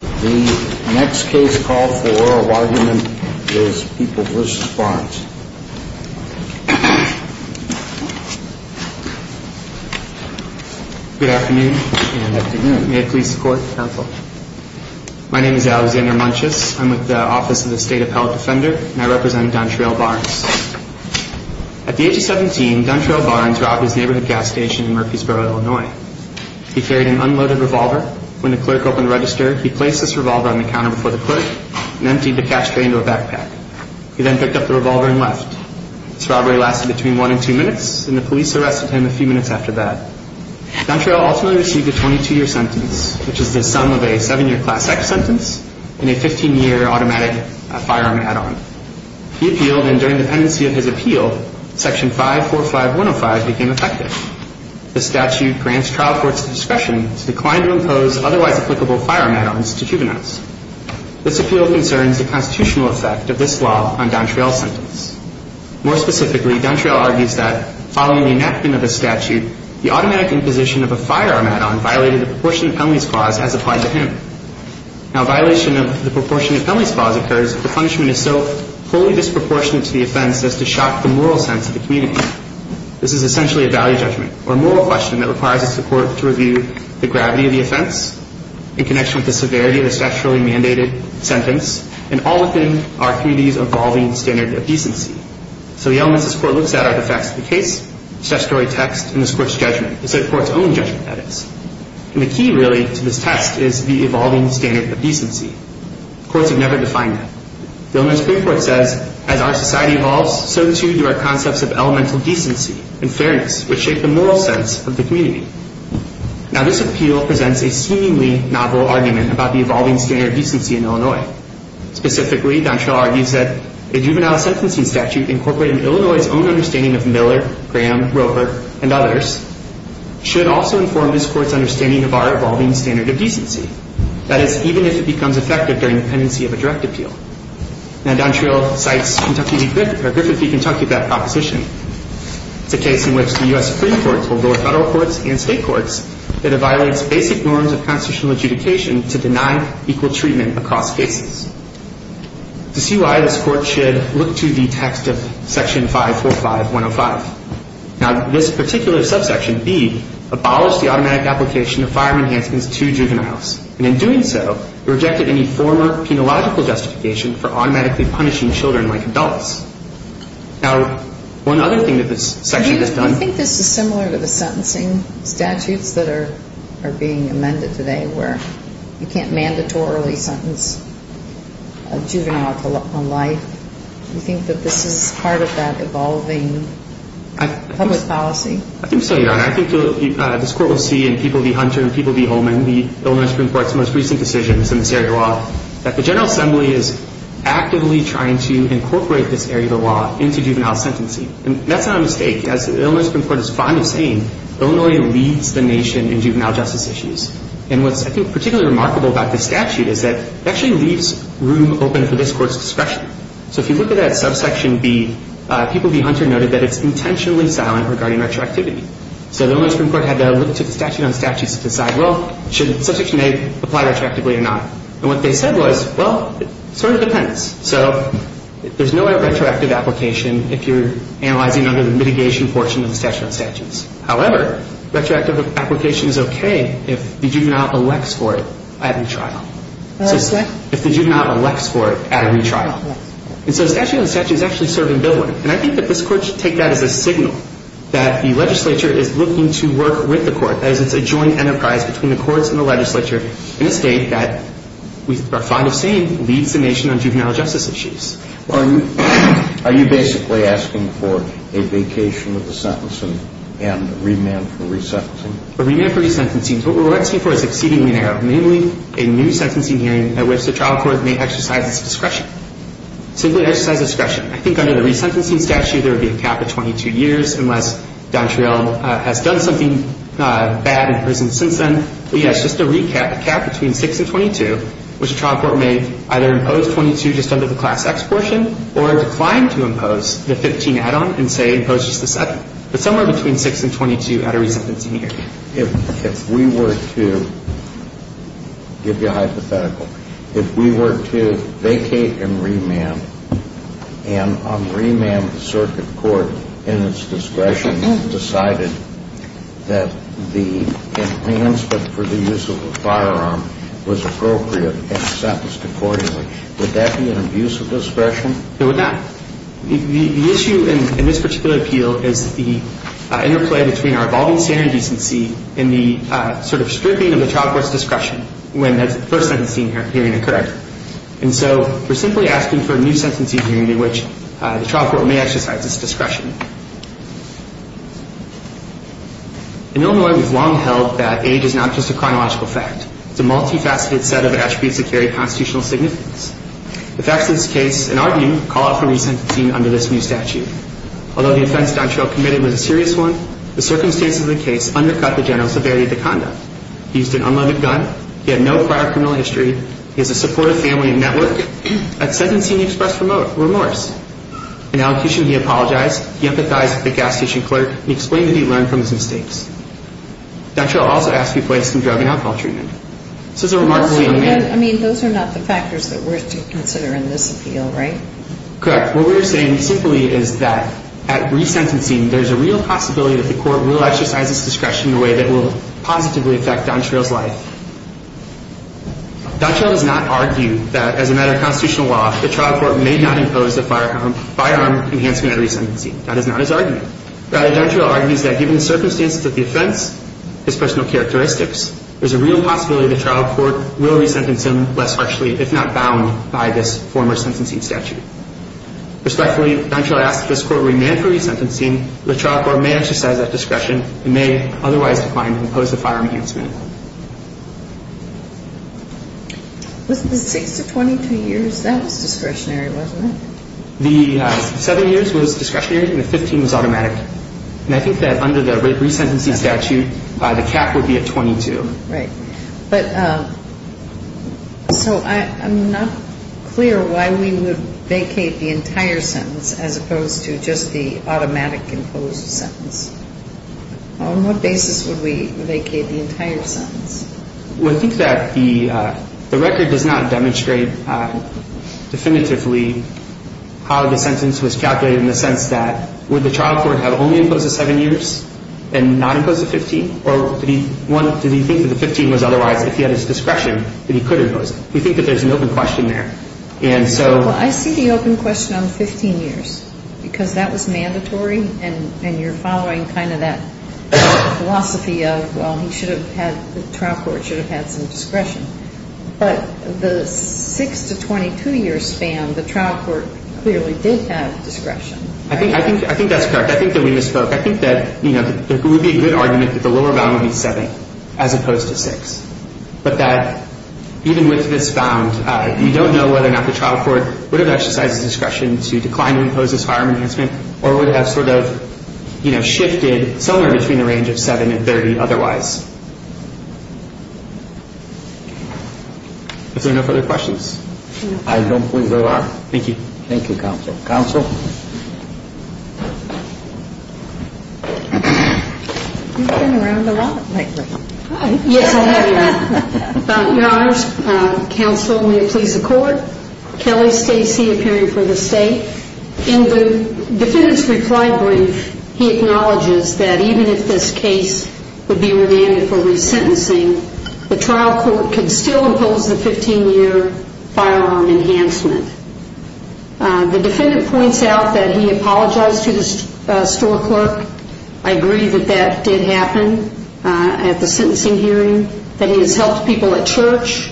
The next case call for oral argument is People v. Barnes. Good afternoon. May it please the Court. My name is Alexander Munches. I'm with the Office of the State Appellate Defender and I represent Dontrell Barnes. At the age of 17, Dontrell Barnes robbed his neighborhood gas station in Murfreesboro, Illinois. He carried an unloaded revolver. When the clerk opened the register, he placed this revolver on the counter before the clerk and emptied the cash tray into a backpack. He then picked up the revolver and left. This robbery lasted between one and two minutes, and the police arrested him a few minutes after that. Dontrell ultimately received a 22-year sentence, which is the sum of a 7-year Class X sentence and a 15-year automatic firearm add-on. He appealed, and during the pendency of his appeal, Section 545105 became effective. The statute grants trial courts the discretion to decline to impose otherwise applicable firearm add-ons to juveniles. This appeal concerns the constitutional effect of this law on Dontrell's sentence. More specifically, Dontrell argues that, following the enactment of the statute, the automatic imposition of a firearm add-on violated the proportionate penalties clause as applied to him. Now, a violation of the proportionate penalties clause occurs if the punishment is so wholly disproportionate to the offense as to shock the moral sense of the community. This is essentially a value judgment, or moral question, that requires the court to review the gravity of the offense in connection with the severity of the statutorily mandated sentence and all within our community's evolving standard of decency. So the elements this court looks at are the facts of the case, statutory text, and this court's judgment. It's the court's own judgment, that is. And the key, really, to this test is the evolving standard of decency. Courts have never defined that. The Illinois Supreme Court says, as our society evolves, so too do our concepts of elemental decency and fairness, which shape the moral sense of the community. Now, this appeal presents a seemingly novel argument about the evolving standard of decency in Illinois. Specifically, Dontrell argues that a juvenile sentencing statute incorporating Illinois' own understanding of Miller, Graham, Roper, and others should also inform this court's understanding of our evolving standard of decency, that is, even if it becomes effective during the pendency of a direct appeal. Now, Dontrell cites Griffith v. Kentucky, that proposition. It's a case in which the U.S. Supreme Court will go to federal courts and state courts that it violates basic norms of constitutional adjudication to deny equal treatment across cases. To see why, this court should look to the text of Section 545.105. Now, this particular subsection, B, abolished the automatic application of firearm enhancements to juveniles. And in doing so, it rejected any former penological justification for automatically punishing children like adults. Now, one other thing that this section has done. Do you think this is similar to the sentencing statutes that are being amended today, where you can't mandatorily sentence a juvenile to life? Do you think that this is part of that evolving public policy? I think so, Your Honor. I think this court will see in People v. Hunter and People v. Holman, the Illinois Supreme Court's most recent decisions in this area of law, that the General Assembly is actively trying to incorporate this area of the law into juvenile sentencing. And that's not a mistake. As the Illinois Supreme Court is fond of saying, Illinois leads the nation in juvenile justice issues. And what's, I think, particularly remarkable about this statute is that it actually leaves room open for this court's discretion. So if you look at that subsection, B, People v. Hunter noted that it's intentionally silent regarding retroactivity. So the Illinois Supreme Court had to look to the statute on statutes to decide, well, should Subsection A apply retroactively or not? And what they said was, well, it sort of depends. So there's no retroactive application if you're analyzing under the mitigation portion of the statute on statutes. However, retroactive application is okay if the juvenile elects for it at a retrial. If the juvenile elects for it at a retrial. And so the statute is actually serving Bill 1. And I think that this court should take that as a signal that the legislature is looking to work with the court. That is, it's a joint enterprise between the courts and the legislature in a state that we are fond of saying leads the nation on juvenile justice issues. Are you basically asking for a vacation of the sentencing and remand for resentencing? A remand for resentencing. What we're asking for is exceedingly narrow, namely a new sentencing hearing at which the trial court may exercise its discretion. Simply exercise discretion. I think under the resentencing statute, there would be a cap of 22 years, unless Don Triell has done something bad in prison since then. But, yes, just to recap, a cap between 6 and 22, which the trial court may either impose 22 just under the Class X portion, or decline to impose the 15 add-on and say impose just the 7. But somewhere between 6 and 22 at a resentencing hearing. If we were to give you a hypothetical, if we were to vacate and remand, and remand the circuit court in its discretion, would that be an abuse of discretion? It would not. The issue in this particular appeal is the interplay between our evolving standard decency and the sort of stripping of the trial court's discretion when that first sentencing hearing occurred. And so we're simply asking for a new sentencing hearing at which the trial court may exercise its discretion. In Illinois, we've long held that age is not just a chronological fact. It's a multifaceted set of attributes that carry constitutional significance. The facts of this case, in our view, call out for resentencing under this new statute. Although the offense Don Triell committed was a serious one, the circumstances of the case undercut the general severity of the conduct. He used an unlimited gun. He had no prior criminal history. He has a supportive family and network. At sentencing, he expressed remorse. In allocution, he apologized. He empathized with the gas station clerk. He explained that he learned from his mistakes. Don Triell also asked to be placed on drug and alcohol treatment. This is a remarkably unmanned. I mean, those are not the factors that we're to consider in this appeal, right? Correct. What we're saying simply is that at resentencing, there's a real possibility that the court will exercise its discretion in a way that will positively affect Don Triell's life. Don Triell does not argue that, as a matter of constitutional law, the trial court may not impose a firearm enhancement at resentencing. That is not his argument. Rather, Don Triell argues that given the circumstances of the offense, his personal characteristics, there's a real possibility the trial court will resentence him less harshly, if not bound by this former sentencing statute. Respectfully, Don Triell asks that this court remain for resentencing. The trial court may exercise that discretion and may otherwise decline to impose a firearm enhancement. With the 6 to 22 years, that was discretionary, wasn't it? The 7 years was discretionary and the 15 was automatic. And I think that under the resentencing statute, the cap would be a 22. Right. But so I'm not clear why we would vacate the entire sentence as opposed to just the automatic imposed sentence. On what basis would we vacate the entire sentence? Well, I think that the record does not demonstrate definitively how the sentence was calculated, in the sense that would the trial court have only imposed the 7 years and not imposed the 15? Or did he think that the 15 was otherwise, if he had his discretion, that he could impose it? We think that there's an open question there. Well, I see the open question on the 15 years because that was mandatory and you're following kind of that philosophy of, well, the trial court should have had some discretion. But the 6 to 22 years span, the trial court clearly did have discretion. I think that's correct. I think that we misspoke. I think that it would be a good argument that the lower bound would be 7 as opposed to 6, but that even with this bound, we don't know whether or not the trial court would have exercised discretion to decline to impose this firearm enhancement or would have sort of, you know, shifted somewhere between the range of 7 and 30 otherwise. Are there no further questions? I don't believe there are. Thank you. Thank you, counsel. Counsel? Yes, I have, Your Honor. Your Honors, counsel, may it please the Court. Kelly Stacey, appearing for the State. In the defendant's reply brief, he acknowledges that even if this case would be remanded for resentencing, the trial court could still impose the 15-year firearm enhancement. The defendant points out that he apologized to the store clerk. I agree that that did happen at the sentencing hearing, that he has helped people at church,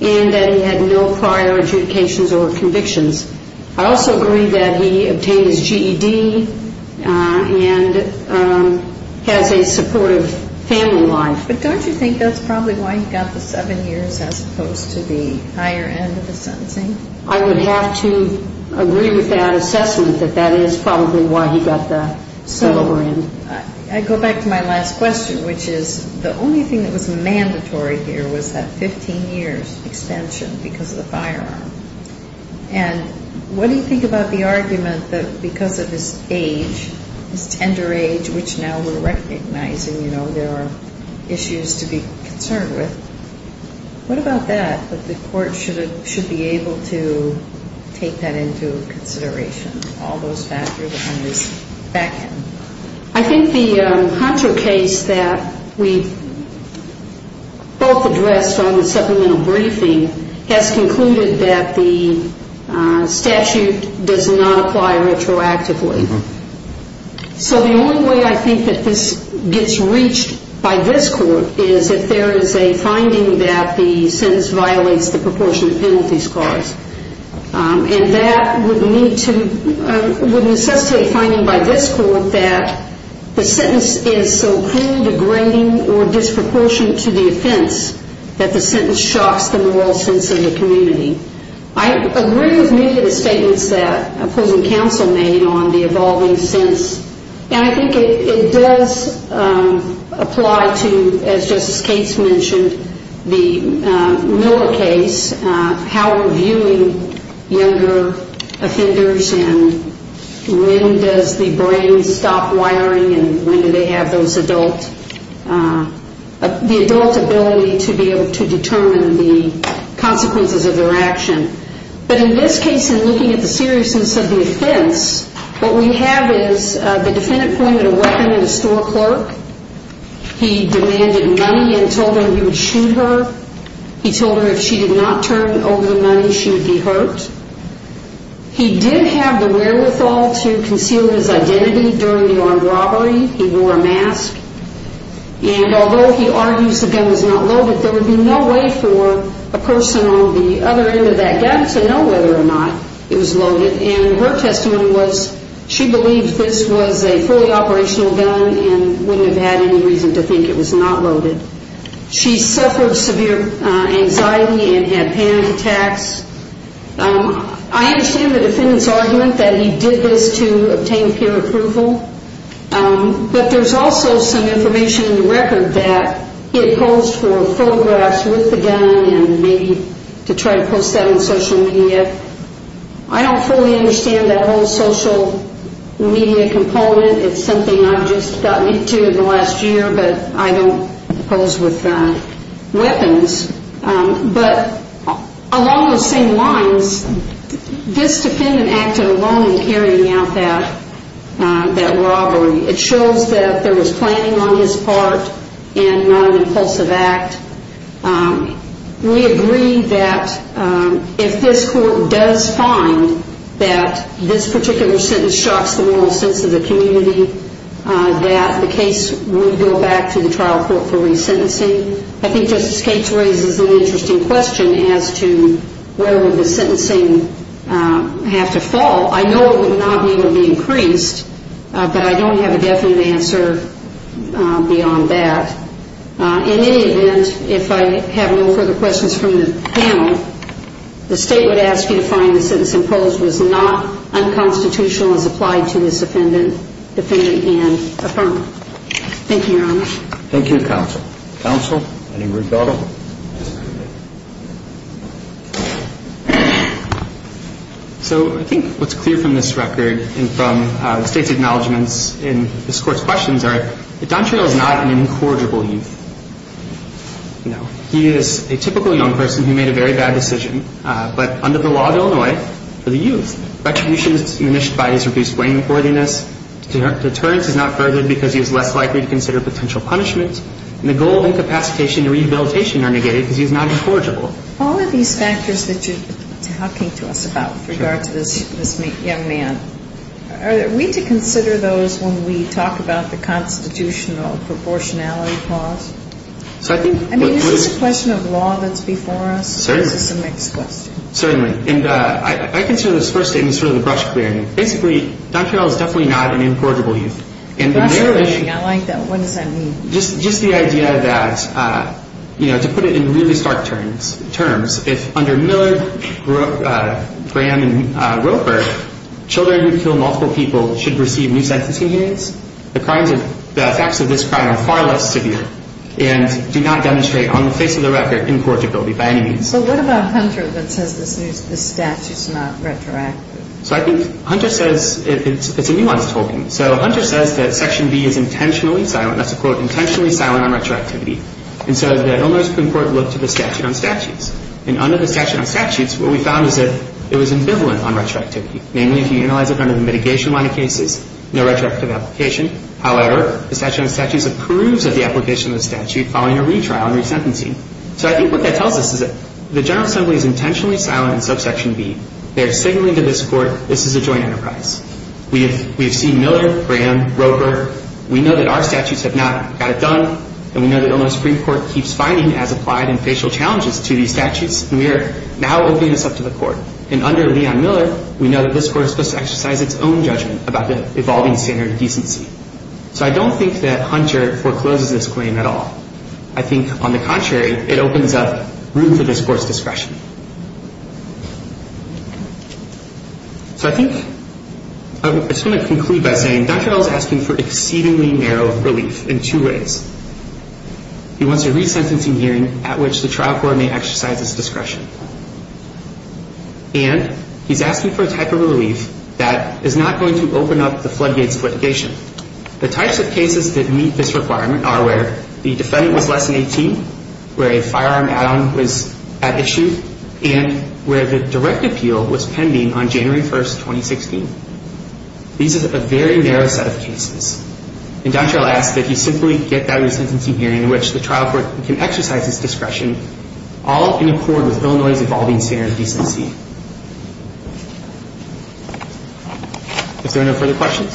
and that he had no prior adjudications or convictions. I also agree that he obtained his GED and has a supportive family life. But don't you think that's probably why he got the 7 years as opposed to the higher end of the sentencing? I would have to agree with that assessment that that is probably why he got the 7 over end. I go back to my last question, which is the only thing that was mandatory here was that 15 years extension because of the firearm. And what do you think about the argument that because of his age, his tender age, which now we're recognizing, you know, there are issues to be concerned with, what about that, that the court should be able to take that into consideration, all those factors on this back end? I think the Hunter case that we both addressed on the supplemental briefing has concluded that the statute does not apply retroactively. So the only way I think that this gets reached by this court is if there is a finding that the sentence violates the proportion of penalty scars. And that would necessitate a finding by this court that the sentence is so cruel, degrading, or disproportionate to the offense that the sentence shocks the moral sense of the community. I agree with many of the statements that opposing counsel made on the evolving sense. And I think it does apply to, as Justice Cates mentioned, the Miller case, how we're viewing younger offenders and when does the brain stop wiring and when do they have those adult, the adult ability to be able to determine the consequences of their action. But in this case, in looking at the seriousness of the offense, what we have is the defendant pointed a weapon at a store clerk. He demanded money and told her he would shoot her. He told her if she did not turn over the money, she would be hurt. He did have the wherewithal to conceal his identity during the armed robbery. He wore a mask. And although he argues the gun was not loaded, there would be no way for a person on the other end of that gap to know whether or not it was loaded. And her testimony was she believed this was a fully operational gun and wouldn't have had any reason to think it was not loaded. She suffered severe anxiety and had panic attacks. I understand the defendant's argument that he did this to obtain peer approval. But there's also some information in the record that he opposed for photographs with the gun and maybe to try to post that on social media. I don't fully understand that whole social media component. It's something I've just gotten into in the last year, but I don't oppose with weapons. But along those same lines, this defendant acted alone in carrying out that robbery. It shows that there was planning on his part and not an impulsive act. We agree that if this court does find that this particular sentence shocks the moral sense of the community, that the case would go back to the trial court for resentencing. I think Justice Gates raises an interesting question as to where would the sentencing have to fall. I know it would not need to be increased, but I don't have a definite answer beyond that. In any event, if I have no further questions from the panel, the State would ask you to find the sentence imposed was not unconstitutional as applied to this defendant. Thank you, Your Honor. Thank you, counsel. Counsel, any rebuttal? So I think what's clear from this record and from the State's acknowledgments in this court's questions are that Don Terrell is not an incorrigible youth. No. He is a typical young person who made a very bad decision, but under the law of Illinois, for the youth, retribution is diminished by his reduced blameworthiness. Deterrence is not furthered because he is less likely to consider potential punishment. And the goal of incapacitation and rehabilitation are negated because he is not incorrigible. All of these factors that you're talking to us about with regard to this young man, are we to consider those when we talk about the constitutional proportionality clause? I mean, is this a question of law that's before us? Certainly. Or is this a mixed question? Certainly. And I consider this first statement sort of the brush clearing. Basically, Don Terrell is definitely not an incorrigible youth. Brush clearing. I like that. What does that mean? Just the idea that, you know, to put it in really stark terms, if under Millard, Graham, and Roper, children who kill multiple people should receive new sentencing years, the facts of this crime are far less severe and do not demonstrate, on the face of the record, incorrigibility by any means. So what about Hunter that says this statute's not retroactive? So I think Hunter says it's a nuanced holding. So Hunter says that Section B is intentionally silent. That's a quote, intentionally silent on retroactivity. And so the Illinois Supreme Court looked at the statute on statutes. And under the statute on statutes, what we found is that it was ambivalent on retroactivity, namely if you analyze it under the mitigation line of cases, no retroactive application. However, the statute on statutes approves of the application of the statute following a retrial and resentencing. So I think what that tells us is that the General Assembly is intentionally silent in subsection B. They're signaling to this Court this is a joint enterprise. We have seen Millard, Graham, Roper. We know that our statutes have not got it done, and we know the Illinois Supreme Court keeps finding as applied and facial challenges to these statutes, and we are now opening this up to the Court. And under Leon Miller, we know that this Court is supposed to exercise its own judgment about the evolving standard of decency. So I don't think that Hunter forecloses this claim at all. I think, on the contrary, it opens up room for this Court's discretion. So I think I'm just going to conclude by saying Dr. L is asking for exceedingly narrow relief in two ways. He wants a resentencing hearing at which the trial court may exercise its discretion. And he's asking for a type of relief that is not going to open up the floodgates of litigation. The types of cases that meet this requirement are where the defendant was less than 18, where a firearm add-on was at issue, and where the direct appeal was pending on January 1, 2016. These are a very narrow set of cases. And Dr. L asks that you simply get that resentencing hearing in which the trial court can exercise its discretion, all in accord with Illinois' evolving standard of decency. If there are no further questions.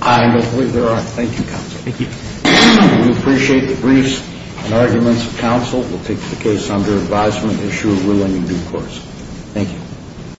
I believe there are. Thank you, counsel. Thank you. We appreciate the briefs and arguments of counsel. We'll take the case under advisement, issue a ruling in due course. Thank you.